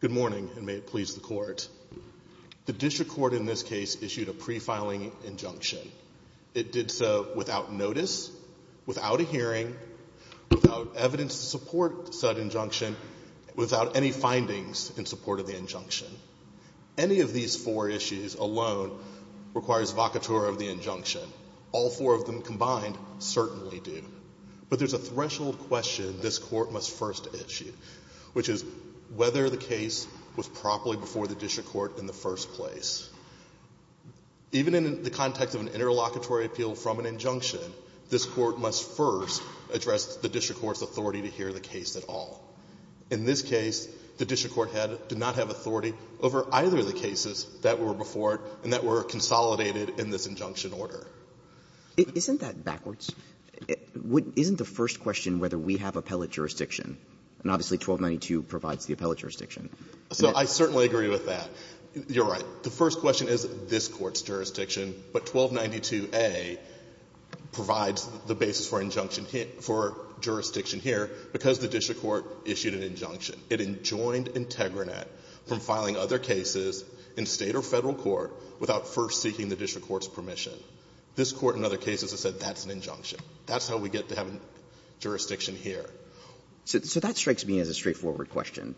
Good morning, and may it please the Court. The District Court in this case issued a pre-filing injunction. It did so without notice, without a hearing, without evidence to support said injunction, without any findings in support of the injunction. Any of these four issues alone requires vocator of the injunction. All four of them combined certainly do. But there's a threshold question this Court must first issue, which is whether the case was properly before the District Court in the first place. Even in the context of an interlocutory appeal from an injunction, this Court must first address the District Court's authority to hear the case at all. In this case, the District Court had to not have authority over either of the cases that were before the District Court and that were consolidated in this injunction order. Isn't that backwards? Isn't the first question whether we have appellate jurisdiction? And obviously 1292 provides the appellate jurisdiction. So I certainly agree with that. You're right. The first question is this Court's jurisdiction, but 1292a provides the basis for injunction here for jurisdiction here because the District Court issued an injunction. It enjoined Integranet from filing other cases in State or Federal court without first seeking the District Court's permission. This Court in other cases has said that's an injunction. That's how we get to have a jurisdiction here. So that strikes me as a straightforward question.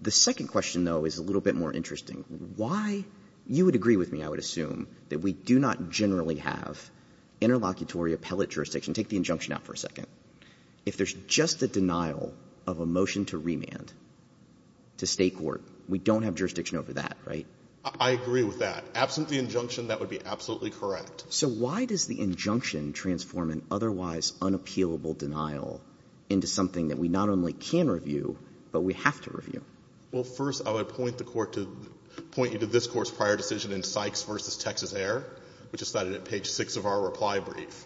The second question, though, is a little bit more interesting. Why? You would agree with me, I would assume, that we do not generally have interlocutory appellate jurisdiction. Take the injunction out for a second. If there's just a denial of a motion to remand to State courts we don't have jurisdiction over that, right? I agree with that. Absent the injunction, that would be absolutely correct. So why does the injunction transform an otherwise unappealable denial into something that we not only can review, but we have to review? Well, first, I would point the Court to point you to this Court's prior decision in Sykes v. Texas Air, which is cited at page 6 of our reply brief,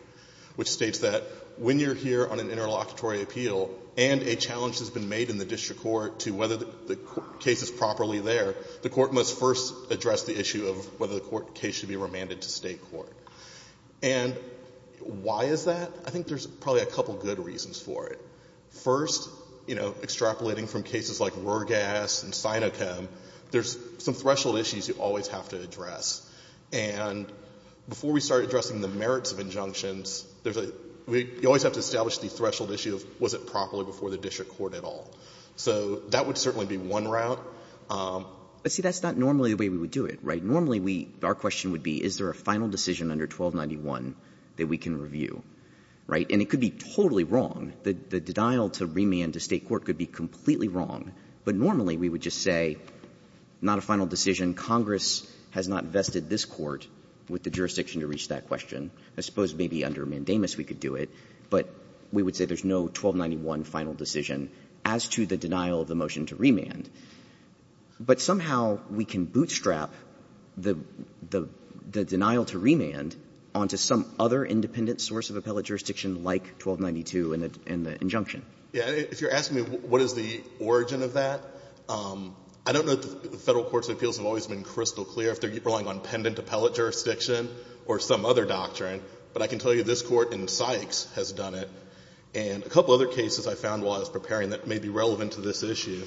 which states that when you're here on an interlocutory appeal and a challenge has been made in the case properly there, the Court must first address the issue of whether the case should be remanded to State court. And why is that? I think there's probably a couple of good reasons for it. First, you know, extrapolating from cases like Ruhrgas and Sinochem, there's some threshold issues you always have to address. And before we start addressing the merits of injunctions, there's a — you always have to establish the threshold issue of was it properly before the district court at all. So that would certainly be one route. But, see, that's not normally the way we would do it, right? Normally, we — our question would be, is there a final decision under 1291 that we can review, right? And it could be totally wrong. The denial to remand to State court could be completely wrong. But normally, we would just say, not a final decision. Congress has not vested this court with the jurisdiction to reach that question. I suppose maybe under Mandamus we could do it. But we would say there's no 1291 final decision as to the denial of the motion to remand. But somehow we can bootstrap the — the denial to remand onto some other independent source of appellate jurisdiction like 1292 in the injunction. Yeah. If you're asking me what is the origin of that, I don't know that the Federal courts of appeals have always been crystal clear if they're relying on pendant appellate jurisdiction or some other doctrine. But I can tell you this Court in Sykes has done it. And a couple other cases I found while I was preparing that may be relevant to this issue.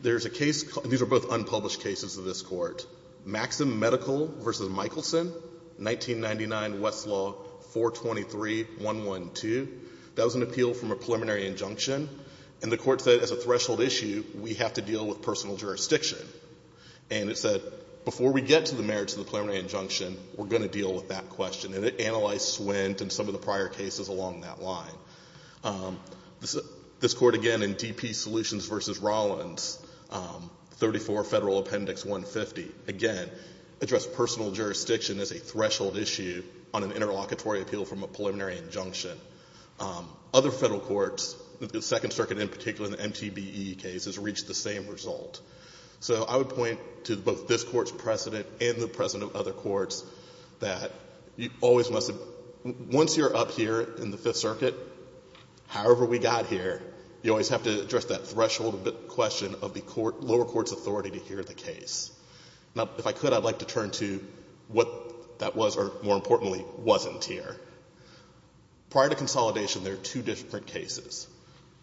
There's a case — these are both unpublished cases of this Court. Maxim Medical v. Michelson, 1999, Westlaw 423-112. That was an appeal from a preliminary injunction. And the Court said as a threshold issue, we have to deal with personal jurisdiction. And it said, before we deal with — when we get to the merits of the preliminary injunction, we're going to deal with that question. And it analyzed Swint and some of the prior cases along that line. This Court again in D.P. Solutions v. Rollins, 34 Federal Appendix 150, again, addressed personal jurisdiction as a threshold issue on an interlocutory appeal from a preliminary injunction. Other Federal courts, the Second Circuit in particular, the MTBE case has reached the same result. So I would point to both this Court's precedent and the precedent of other courts that you always must have — once you're up here in the Fifth Circuit, however we got here, you always have to address that threshold question of the lower court's authority to hear the case. Now, if I could, I'd like to turn to what that was or, more importantly, wasn't here. Prior to consolidation, there are two different cases.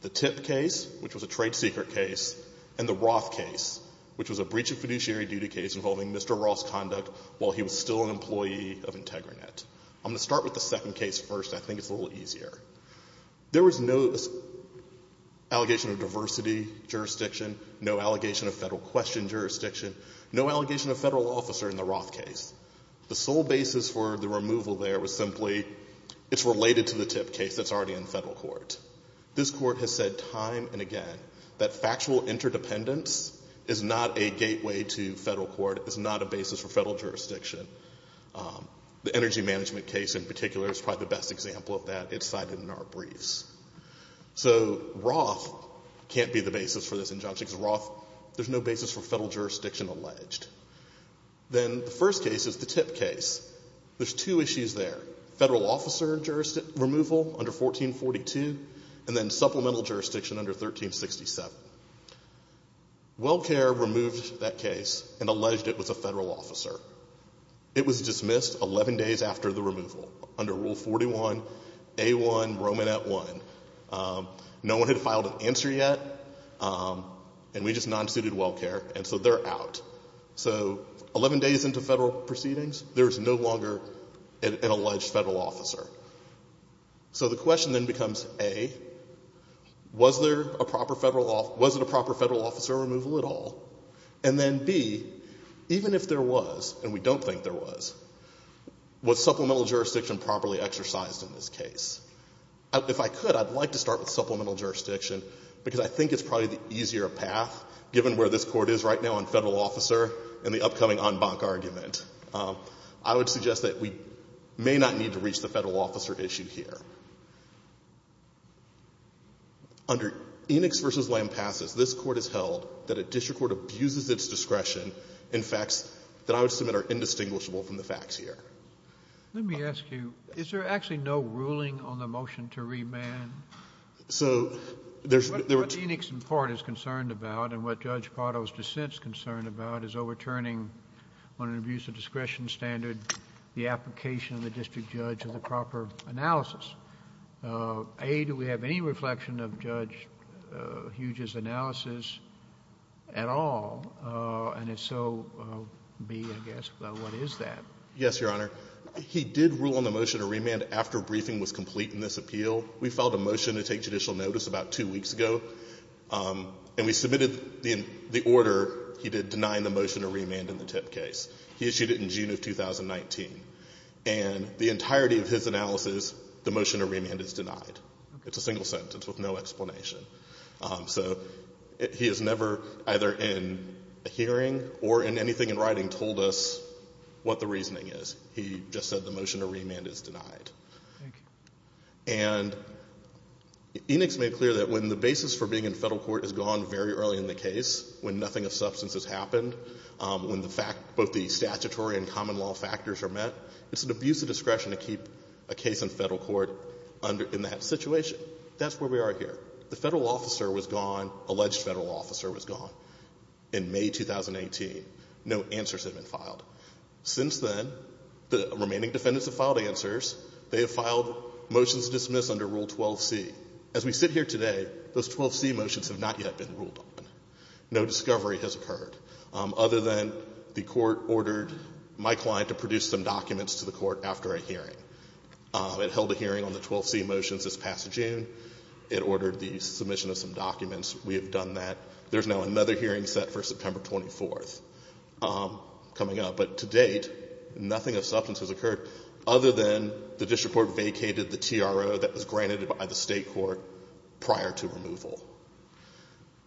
The TIP case, which was a trade secret case, and the Roth case, which was a breach of fiduciary duty case involving Mr. Roth's conduct while he was still an employee of IntegraNet. I'm going to start with the second case first. I think it's a little easier. There was no allegation of diversity jurisdiction, no allegation of Federal question jurisdiction, no allegation of Federal officer in the Roth case. The sole basis for the removal there was simply it's related to the TIP case that's already in Federal court. This Court has said time and again that factual interdependence is not a gateway to Federal court, is not a basis for Federal jurisdiction. The energy management case in particular is probably the best example of that. It's cited in our briefs. So Roth can't be the basis for this injunction, because Roth, there's no basis for Federal jurisdiction alleged. Then the first case is the TIP case. There's two issues there, Federal officer removal under 1442, and then supplemental jurisdiction under 1367. Well Care removed that case and alleged it was a Federal officer. It was dismissed 11 days after the removal under Rule 41A1 Romanet 1. No one had filed an answer yet, and we just non-suited Well Care, and so they're out. So 11 days into Federal proceedings, there's no longer an alleged Federal officer. So the question then becomes, A, was there a proper Federal officer removal at all? And then, B, even if there was, and we don't think there was, was supplemental jurisdiction properly exercised in this case? If I could, I'd like to start with supplemental jurisdiction, because I think it's probably the easier path, given where this Court is right now on Federal officer and the upcoming en banc argument. I would suggest that we may not need to reach the Federal officer issue here. Under Enix v. Lamb passes, this Court has held that a district court abuses its discretion in facts that I would submit are indistinguishable from the facts here. Let me ask you, is there actually no ruling on the motion to remand? So there's no rule on the motion to remand. What Enix, in part, is concerned about, and what Judge Pardo's dissent is concerned about, is overturning on an abuse of discretion standard the application of the district judge of the proper analysis. A, do we have any reflection of Judge Hughes' analysis at all? And if so, B, I guess, what is that? Yes, Your Honor. He did rule on the motion to remand after briefing was complete in this appeal. We filed a motion to take judicial notice about two weeks ago. And we submitted the order he did denying the motion to remand in the Tip case. He issued it in June of 2019. And the entirety of his analysis, the motion to remand is denied. It's a single sentence with no explanation. So he has never, either in a hearing or in anything in writing, told us what the reasoning is. He just said the motion to remand is denied. Thank you. And Enix made clear that when the basis for being in Federal court is gone very early in the case, when nothing of substance has happened, when the fact, both the statutory and common law factors are met, it's an abuse of discretion to keep a case in Federal court under, in that situation. That's where we are here. The Federal officer was gone, alleged Federal officer was gone, in May 2018. No answers have been filed. Since then, the remaining defendants have filed answers. They have filed motions to dismiss under Rule 12c. As we sit here today, those 12c motions have not yet been ruled on. No discovery has occurred, other than the Court ordered my client to produce some documents to the Court after a hearing. It held a hearing on the 12c motions this past June. It ordered the submission of some documents. We have done that. There's now another hearing set for September 24th coming up. But to date, nothing of substance has occurred, other than the district court vacated the TRO that was granted by the State court prior to removal.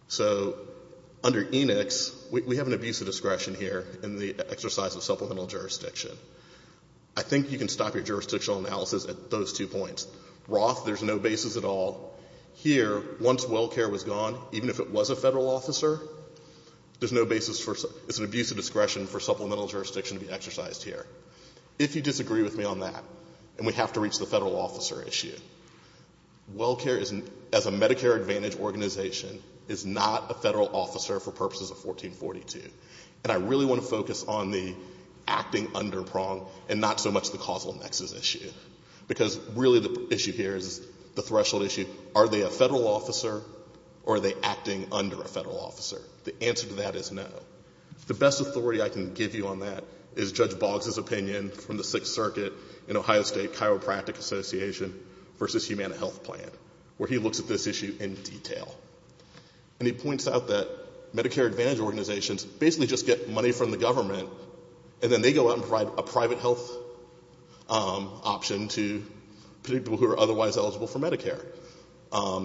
So under Enix, we have an abuse of discretion here in the exercise of supplemental jurisdiction. I think you can stop your jurisdictional analysis at those two points. Roth, there's no basis at all. Here, once well care was gone, even if it was a Federal officer, there's no basis for, it's an abuse of discretion for supplemental jurisdiction to be exercised here. If you disagree with me on that, and we have to reach the Federal officer issue, well care, as a Medicare Advantage organization, is not a Federal officer for purposes of 1442. And I really want to focus on the acting under prong and not so much the causal nexus issue. Because really the issue here is the threshold issue, are they a Federal officer or are they acting under a Federal officer? The answer to that is no. The best authority I can give you on that is Judge Boggs' opinion from the Sixth Circuit in Ohio State Chiropractic Association versus Humana Health Plan, where he looks at this issue in detail. And he points out that Medicare Advantage organizations basically just get money from the government and then they go out and provide a private health option to people who are otherwise eligible for Medicare.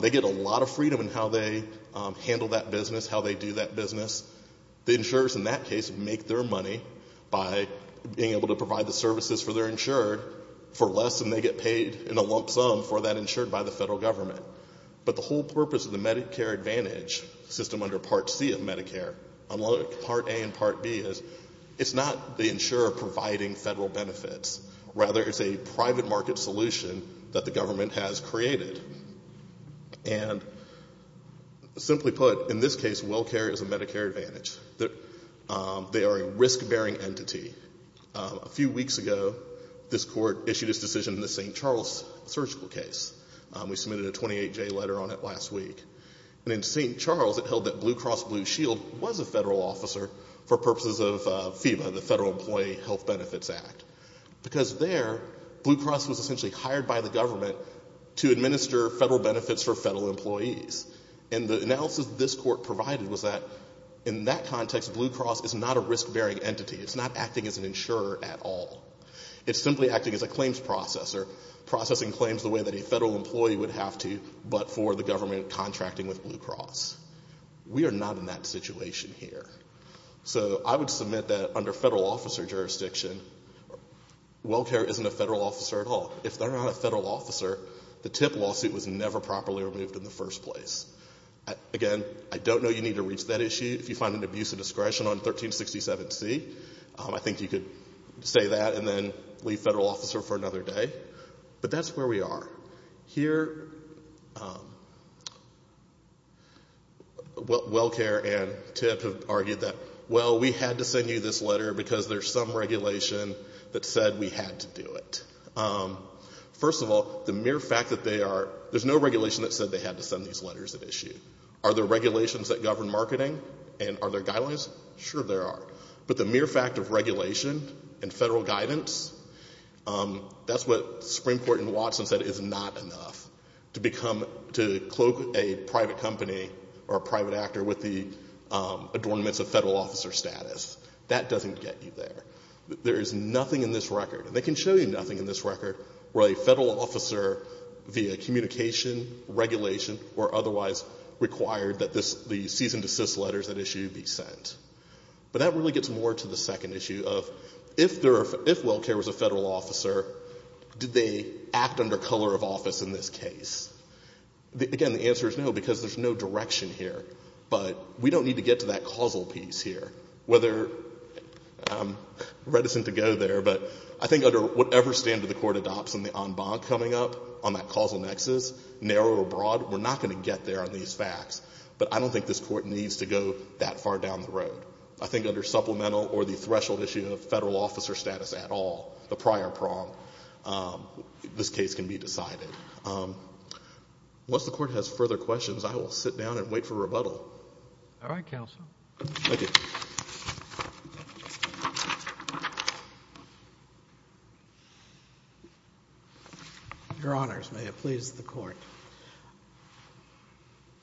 They get a lot of freedom in how they handle that business, how they do that business. The insurers in that case make their money by being able to provide the services for their insured for less than they get paid in a lump sum for that insured by the Federal government. But the whole purpose of the Medicare Advantage system under Part C of Medicare, under Part A and Part B, is it's not the insurer providing Federal benefits. Rather, it's a private market solution that the government has created. And simply put, in this case, well care is a Medicare Advantage. They are a risk-bearing entity. A few weeks ago, this Court issued its decision in the St. Charles surgical case. We submitted a 28-J letter on it last week. And in St. Charles, it held that Blue Cross Blue Shield was a Federal officer for purposes of FEBA, the Federal Employee Health Benefits Act. Because there, Blue Cross was essentially hired by the government to administer Federal benefits for Federal employees. And the analysis this Court provided was that in that context, Blue Cross is not a risk-bearing entity. It's not acting as an insurer at all. It's simply acting as a claims processor, processing claims the way that a Federal employee would have to, but for the government contracting with Blue Cross. We are not in that situation here. So I would submit that under Federal officer jurisdiction, well care isn't a Federal officer at all. If they're not a Federal officer, the TIP lawsuit was never properly removed in the first place. Again, I don't know you need to reach that issue. If you find an abuse of discretion on 1367C, I think you could say that and then leave Federal officer for another day. But that's where we are. Here, well care and TIP have argued that, well, we had to send you this letter because there's some regulation that said we had to do it. First of all, the mere fact that they are, there's no regulation that said they had to send these letters at issue. Are there regulations that govern marketing? And are there guidelines? Sure there are. But the mere fact of regulation and Federal guidance, that's what Springport and Watson said, is not enough to become, to cloak a private company or a private actor with the adornments of Federal officer status. That doesn't get you there. There is nothing in this record, and they can show you nothing in this record, where a Federal officer via communication, regulation, or otherwise required that the cease and desist letters at issue be sent. But that really gets more to the second issue of if there are, if well care was a in this case. Again, the answer is no, because there's no direction here. But we don't need to get to that causal piece here. Whether, I'm reticent to go there, but I think under whatever standard the Court adopts in the en bas coming up on that causal nexus, narrow or broad, we're not going to get there on these facts. But I don't think this Court needs to go that far down the road. I think under supplemental or the threshold issue of Federal officer status at all, the prior prong, this case can be decided. Once the Court has further questions, I will sit down and wait for rebuttal. All right, Counsel. Thank you. Your Honors, may it please the Court.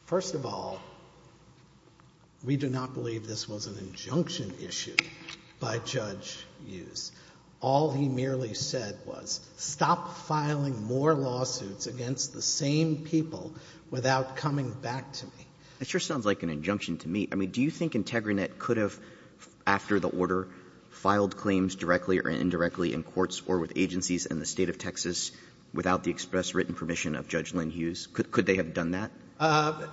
First of all, we do not believe this was an injunction issue by Judge Hughes. All he merely said was stop filing more lawsuits against the same people without coming back to me. It sure sounds like an injunction to me. I mean, do you think Integrinet could have, after the order, filed claims directly or indirectly in courts or with agencies in the State of Texas without the express written permission of Judge Lynn Hughes? Could they have done that?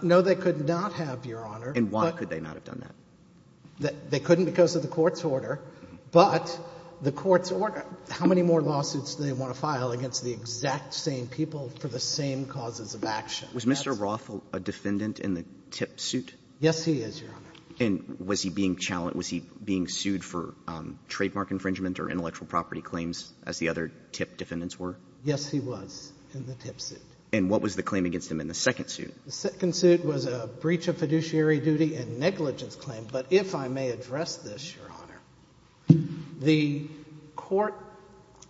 No, they could not have, Your Honor. And why could they not have done that? They couldn't because of the Court's order, but the Court's order, how many more lawsuits do they want to file against the exact same people for the same causes of action? Was Mr. Roth a defendant in the TIP suit? Yes, he is, Your Honor. And was he being challenged? Was he being sued for trademark infringement or intellectual property claims, as the other TIP defendants were? Yes, he was in the TIP suit. And what was the claim against him in the second suit? The second suit was a breach of fiduciary duty and negligence claim. But if I may address this, Your Honor, the Court,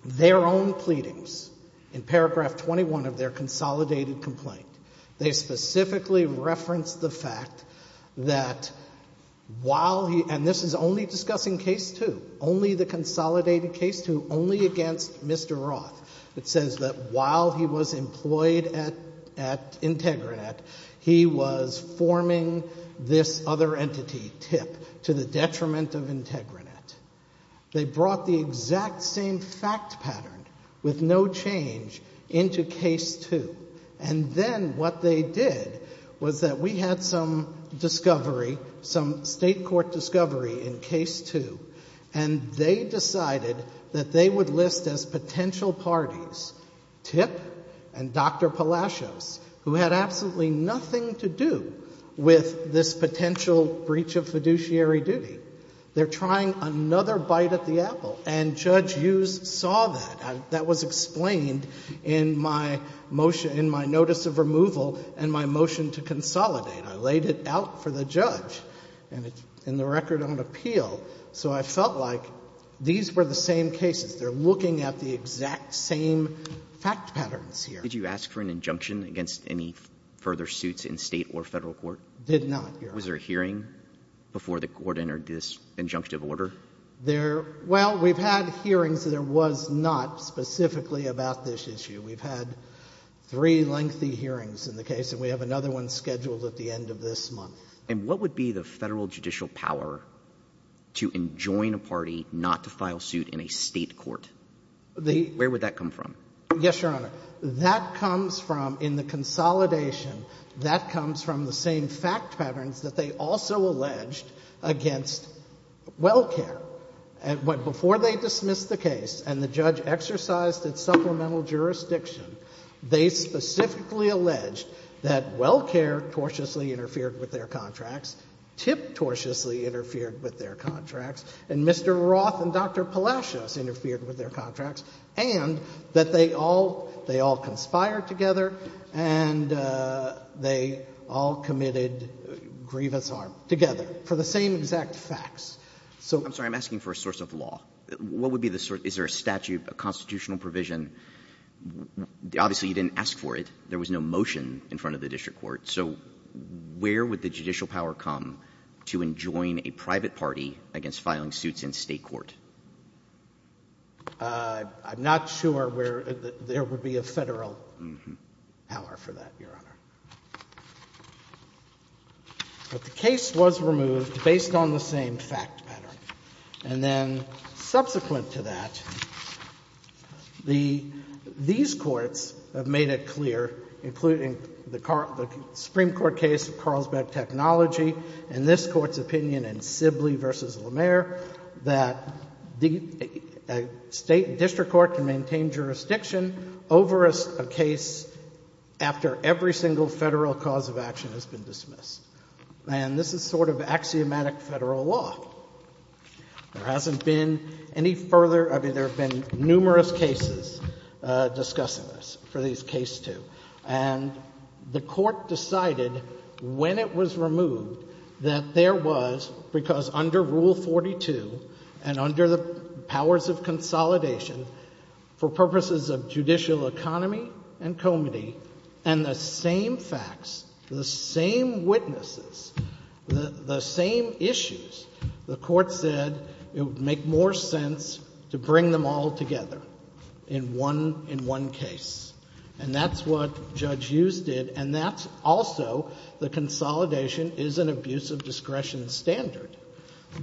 their own pleadings in paragraph 21 of their consolidated complaint, they specifically referenced the fact that while he, and this is only discussing case two, only the consolidated case two, only against Mr. Roth, it says that while he was employed at Integranet, he was forming this other entity, TIP, to the detriment of Integranet. They brought the exact same fact pattern with no change into case two. And then what they did was that we had some discovery, some state court discovery in case two, and they decided that they would list as potential parties TIP and Dr. Palacios, who had absolutely nothing to do with this potential breach of fiduciary duty. They're trying another bite at the apple. And Judge Hughes saw that. That was explained in my motion, in my notice of removal and my motion to consolidate. I laid it out for the judge. And it's in the record on appeal. So I felt like these were the same cases. They're looking at the exact same fact patterns here. Did you ask for an injunction against any further suits in State or Federal court? Did not, Your Honor. Was there a hearing before the Court entered this injunctive order? There — well, we've had hearings. There was not specifically about this issue. We've had three lengthy hearings in the case. And we have another one scheduled at the end of this month. And what would be the Federal judicial power to enjoin a party not to file suit in a State court? Where would that come from? Yes, Your Honor. That comes from, in the consolidation, that comes from the same fact patterns that they also alleged against WellCare. Before they dismissed the case and the judge exercised its supplemental jurisdiction, they specifically alleged that WellCare cautiously interfered with their contracts, tip-tortiously interfered with their contracts, and Mr. Roth and Dr. Palacios interfered with their contracts, and that they all — they all conspired together, and they all committed grievous harm together for the same exact facts. So — I'm sorry. I'm asking for a source of law. What would be the source? Is there a statute, a constitutional provision? Obviously, you didn't ask for it. There was no motion in front of the district court. So where would the judicial power come to enjoin a private party against filing suits in State court? I'm not sure where there would be a Federal power for that, Your Honor. But the case was removed based on the same fact pattern. And then subsequent to that, the — these courts have made it clear, including the Supreme Court case of Carlsbad Technology and this Court's opinion in Sibley v. Lemaire, that a State district court can maintain jurisdiction over a case after every single Federal cause of action has been dismissed. And this is sort of axiomatic Federal law. There hasn't been any further — I mean, there have been numerous cases discussing this for these cases, too. And the Court decided when it was removed that there was — because under Rule 42 and under the powers of consolidation, for purposes of judicial economy and comity and the same facts, the same witnesses, the same issues, the Court said it would make more sense to bring them all together in one case. And that's what Judge Hughes did, and that's also the consolidation is an abuse of discretion standard.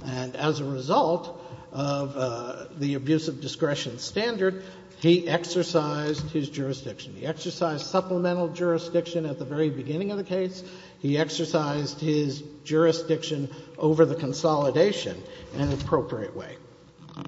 And as a result of the abuse of discretion standard, he exercised his jurisdiction. He exercised supplemental jurisdiction at the very beginning of the case. He exercised his jurisdiction over the consolidation in an appropriate way.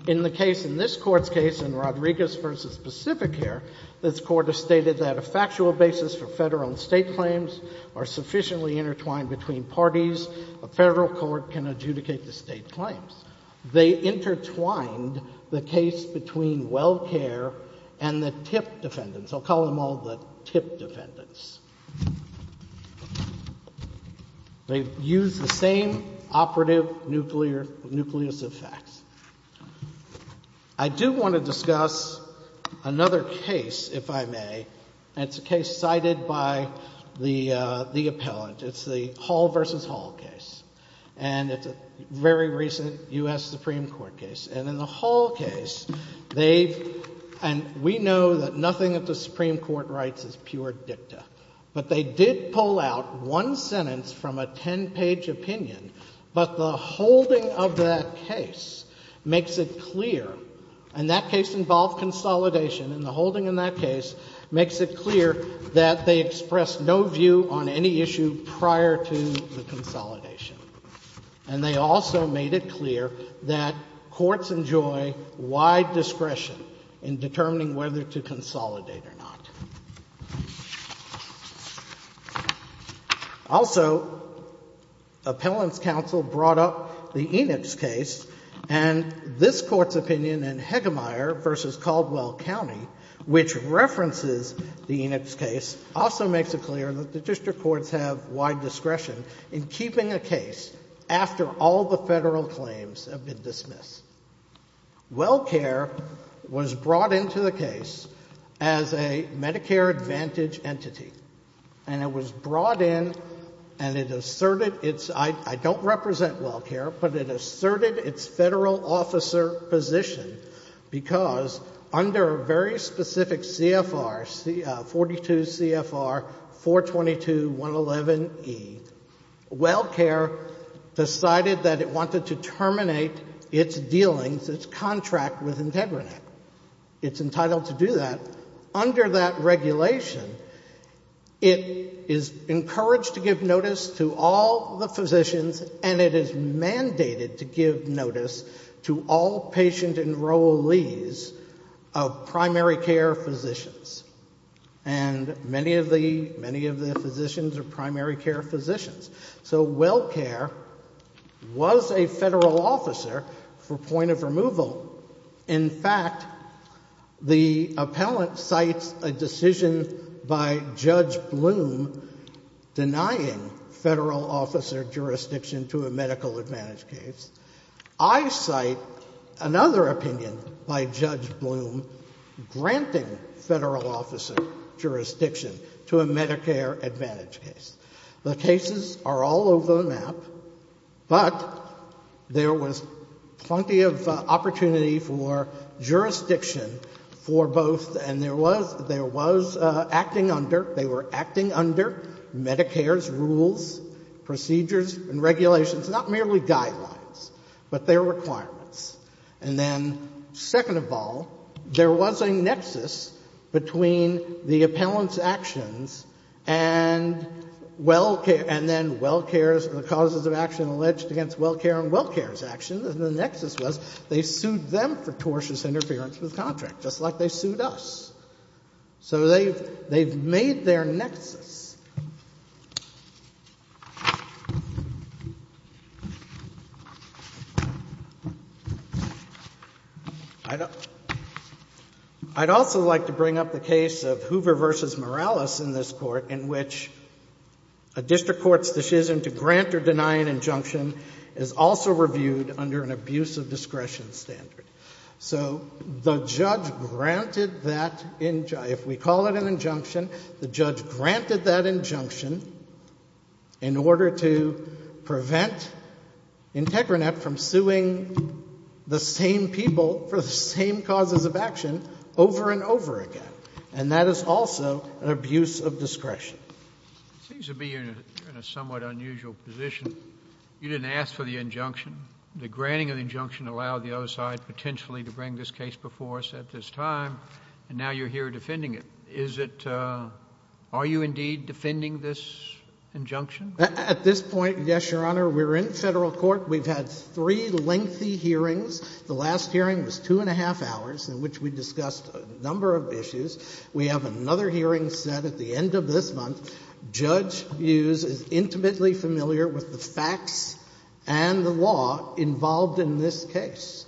In the case, in this Court's case, in Rodriguez v. Pacificare, this Court has stated that a factual basis for Federal and State claims are sufficiently intertwined between parties. A Federal court can adjudicate the State claims. They intertwined the case between WellCare and the TIP defendants. I'll call them all the TIP defendants. They've used the same operative nucleus of facts. I do want to discuss another case, if I may, and it's a case cited by the appellant. It's the Hall v. Hall case, and it's a very recent U.S. Supreme Court case. And in the Hall case, they've — and we know that nothing of the Supreme Court rights is pure dicta, but they did pull out one sentence from a ten-page opinion. But the holding of that case makes it clear — and that case involved consolidation — and the holding in that case makes it clear that they expressed no view on any issue prior to the consolidation. And they also made it clear that courts enjoy wide discretion in determining whether to consolidate or not. Also, appellants' counsel brought up the Enix case, and this Court's opinion in Hegemeyer v. Caldwell County, which references the Enix case, also makes it clear that the district courts have wide discretion in keeping a case after all the Federal claims have been dismissed. WellCare was brought into the case as a Medicare Advantage entity. And it was brought in, and it asserted its — I don't represent WellCare, but it asserted its Federal officer position because under a very specific CFR, 42 CFR 422.111e, WellCare decided that it wanted to terminate its dealings, its contract with IntegriNet. It's entitled to do that. Under that regulation, it is encouraged to give notice to all the physicians, and it is mandated to give notice to all patient enrollees of primary care physicians. And many of the physicians are primary care physicians. So WellCare was a Federal officer for point of removal. In fact, the appellant cites a decision by Judge Bloom denying Federal officer jurisdiction to a medical advantage case. I cite another opinion by Judge Bloom granting Federal officer jurisdiction to a Medicare Advantage case. The cases are all over the map, but there was plenty of opportunity for jurisdiction for both, and there was acting under, they were acting under Medicare's rules, procedures, and regulations, not merely guidelines, but their requirements. And then, second of all, there was a nexus between the appellant's actions and WellCare — and then WellCare's, the causes of action alleged against WellCare and WellCare's actions, and the nexus was they sued them for tortious interference with contract, just like they sued us. So they've made their nexus. I'd also like to bring up the case of Hoover v. Morales in this Court, in which a district court's decision to grant or deny an injunction is also reviewed under an abuse of discretion standard. So the judge granted that — if we call it an injunction, the judge granted that injunction in order to prevent Integrinet from suing the same people for the same causes of action over and over again. And that is also an abuse of discretion. It seems to me you're in a somewhat unusual position. You didn't ask for the injunction. The granting of the injunction allowed the other side potentially to bring this case before us at this time, and now you're here defending it. Is it — are you indeed defending this injunction? At this point, yes, Your Honor. We're in Federal court. We've had three lengthy hearings. The last hearing was two and a half hours, in which we discussed a number of issues. We have another hearing set at the end of this month. Judge Hughes is intimately familiar with the facts and the law involved in this case.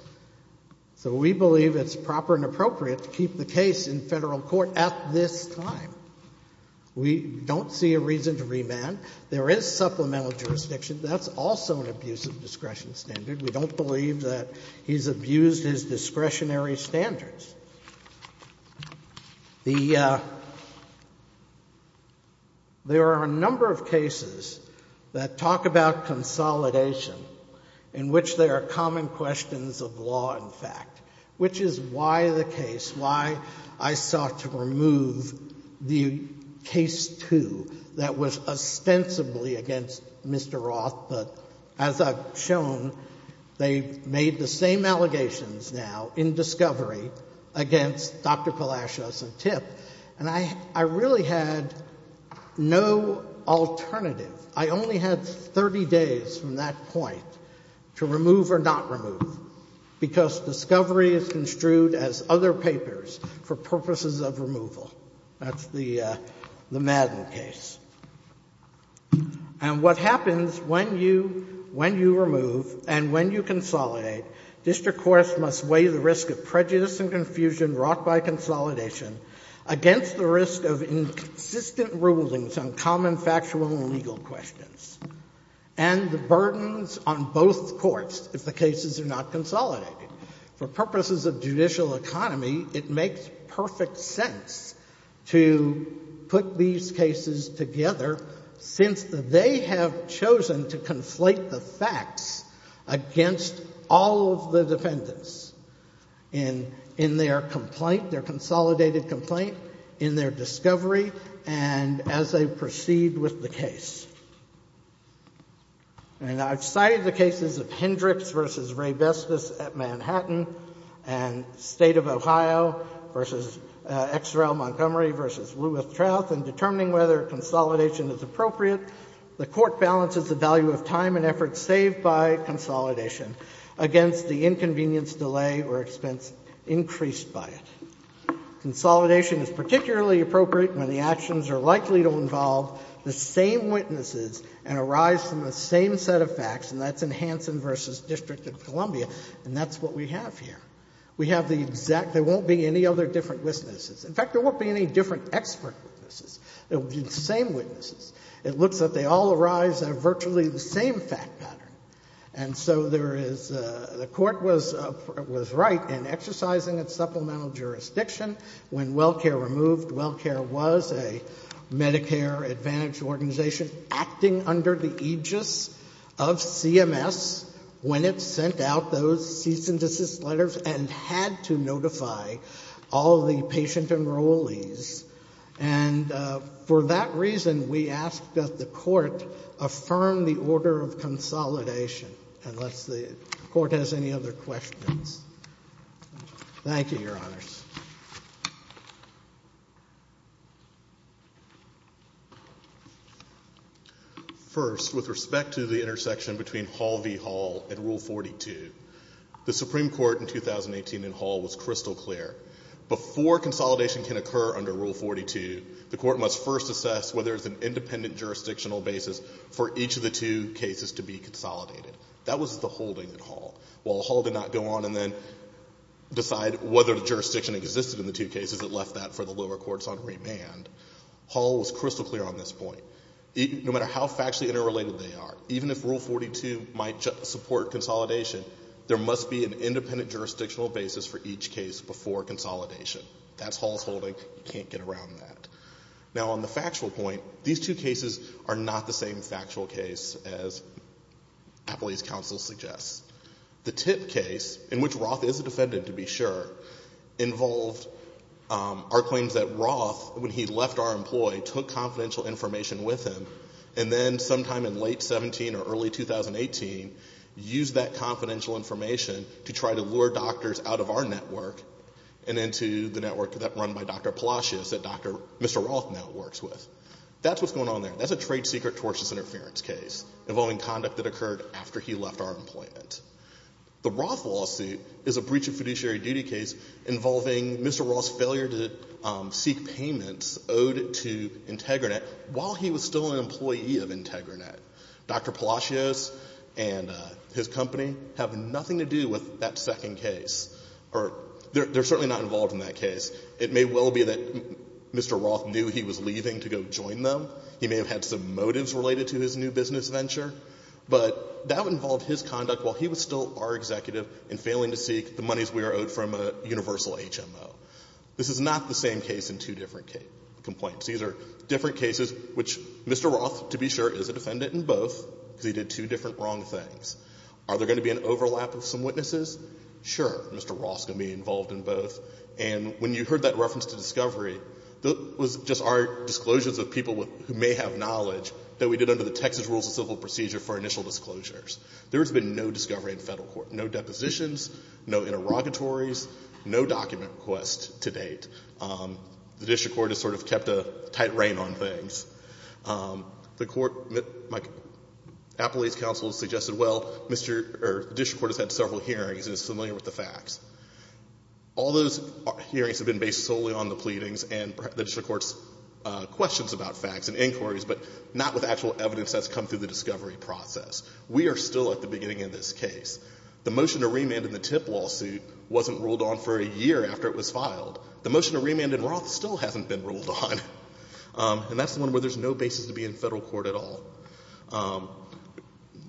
So we believe it's proper and appropriate to keep the case in Federal court at this time. We don't see a reason to remand. There is supplemental jurisdiction. That's also an abuse of discretion standard. We don't believe that he's abused his discretionary standards. The — there are a number of cases that talk about consolidation, in which there are common questions of law and fact, which is why the case — why I sought to remove the case 2 that was ostensibly against Mr. Roth, but as I've shown, they made the same allegations now in discovery against Dr. Palacios and Tip, and I really had no alternative. I only had 30 days from that point to remove or not remove, because discovery is construed as other papers for purposes of removal. That's the Madden case. And what happens when you remove and when you consolidate, district courts must weigh the risk of prejudice and confusion wrought by consolidation against the risk of inconsistent rulings on common factual and legal questions, and the burdens on both courts if the cases are not consolidated. For purposes of judicial economy, it makes perfect sense to put these cases together since they have chosen to conflate the facts against all of the defendants in their complaint, their consolidated complaint, in their discovery, and as they proceed with the case. And I've cited the cases of Hendricks v. Ray Vestas at Manhattan and State of Ohio v. XRL Montgomery v. Lewis Trouth in determining whether consolidation is appropriate. The court balances the value of time and effort saved by consolidation against the inconvenience, delay, or expense increased by it. Consolidation is particularly appropriate when the actions are likely to involve the same witnesses and arise from the same set of facts, and that's in Hansen v. District of Columbia, and that's what we have here. We have the exact — there won't be any other different witnesses. In fact, there won't be any different expert witnesses. It will be the same witnesses. It looks that they all arise out of virtually the same fact pattern. And so there is — the court was right in exercising its supplemental jurisdiction when WellCare removed. WellCare was a Medicare Advantage organization acting under the aegis of CMS when it sent out those cease and desist letters and had to notify all the patient enrollees. And for that reason, we ask that the court affirm the order of consolidation, unless the court has any other questions. Thank you, Your Honors. First, with respect to the intersection between Hall v. Hall and Rule 42, the Supreme Court in 2018 in Hall was crystal clear. Before consolidation can occur under Rule 42, the court must first assess whether there's an independent jurisdictional basis for each of the two cases to be consolidated. That was the holding in Hall. While Hall did not go on and then decide whether the jurisdiction was going to be that left that for the lower courts on remand, Hall was crystal clear on this point. No matter how factually interrelated they are, even if Rule 42 might support consolidation, there must be an independent jurisdictional basis for each case before consolidation. That's Hall's holding. You can't get around that. Now, on the factual point, these two cases are not the same factual case as Appley's counsel suggests. The Tip case, in which Roth is a defendant to be sure, involved our claims that Roth, when he left our employ, took confidential information with him and then sometime in late 17 or early 2018, used that confidential information to try to lure doctors out of our network and into the network that run by Dr. Palacios that Mr. Roth now works with. That's what's going on there. That's a trade secret tortious interference case involving conduct that occurred after he left our employment. The Roth lawsuit is a breach of fiduciary duty case involving Mr. Roth's failure to seek payments owed to IntegraNet while he was still an employee of IntegraNet. Dr. Palacios and his company have nothing to do with that second case. They're certainly not involved in that case. It may well be that Mr. Roth knew he was leaving to go join them. He may have had some motives related to his new business venture. But that would involve his conduct while he was still our executive and failing to seek the monies we were owed from a universal HMO. This is not the same case in two different complaints. These are different cases which Mr. Roth, to be sure, is a defendant in both because he did two different wrong things. Are there going to be an overlap of some witnesses? Sure. Mr. Roth's going to be involved in both. And when you heard that reference to discovery, that was just our disclosures of people who may have knowledge that we did under the Texas Rules of Civil Procedure for initial disclosures. There has been no discovery in Federal court, no depositions, no interrogatories, no document request to date. The district court has sort of kept a tight rein on things. The court, Appellate's counsel suggested, well, Mr. or the district court has had several hearings and is familiar with the facts. All those hearings have been based solely on the pleadings and the district court's questions about facts and inquiries, but not with actual evidence that's come through the discovery process. We are still at the beginning of this case. The motion to remand in the TIP lawsuit wasn't ruled on for a year after it was filed. The motion to remand in Roth still hasn't been ruled on. And that's the one where there's no basis to be in Federal court at all.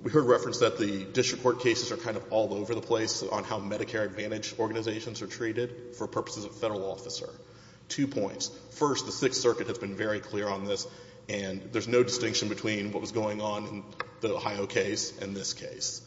We heard reference that the district court cases are kind of all over the place on how Medicare Advantage organizations are treated for purposes of Federal officer. Two points. First, the Sixth Circuit has been very clear on this, and there's no distinction between what was going on in the Ohio case and this case.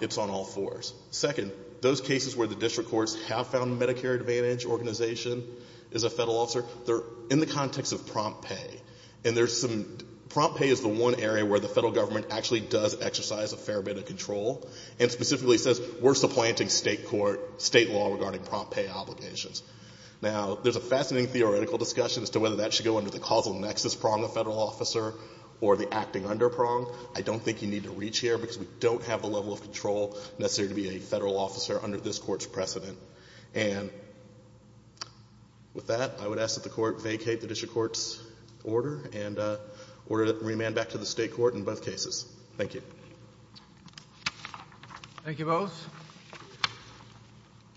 It's on all fours. Second, those cases where the district courts have found the Medicare Advantage organization is a Federal officer, they're in the context of prompt pay. And there's some – prompt pay is the one area where the Federal government actually does exercise a fair bit of control and specifically says we're supplanting State court – State law regarding prompt pay obligations. Now, there's a fascinating theoretical discussion as to whether that should go under the causal nexus prong of Federal officer or the acting under prong. I don't think you need to reach here because we don't have the level of control necessary to be a Federal officer under this Court's precedent. And with that, I would ask that the Court vacate the district court's order and order to remand back to the State court in both cases. Thank you. Thank you both.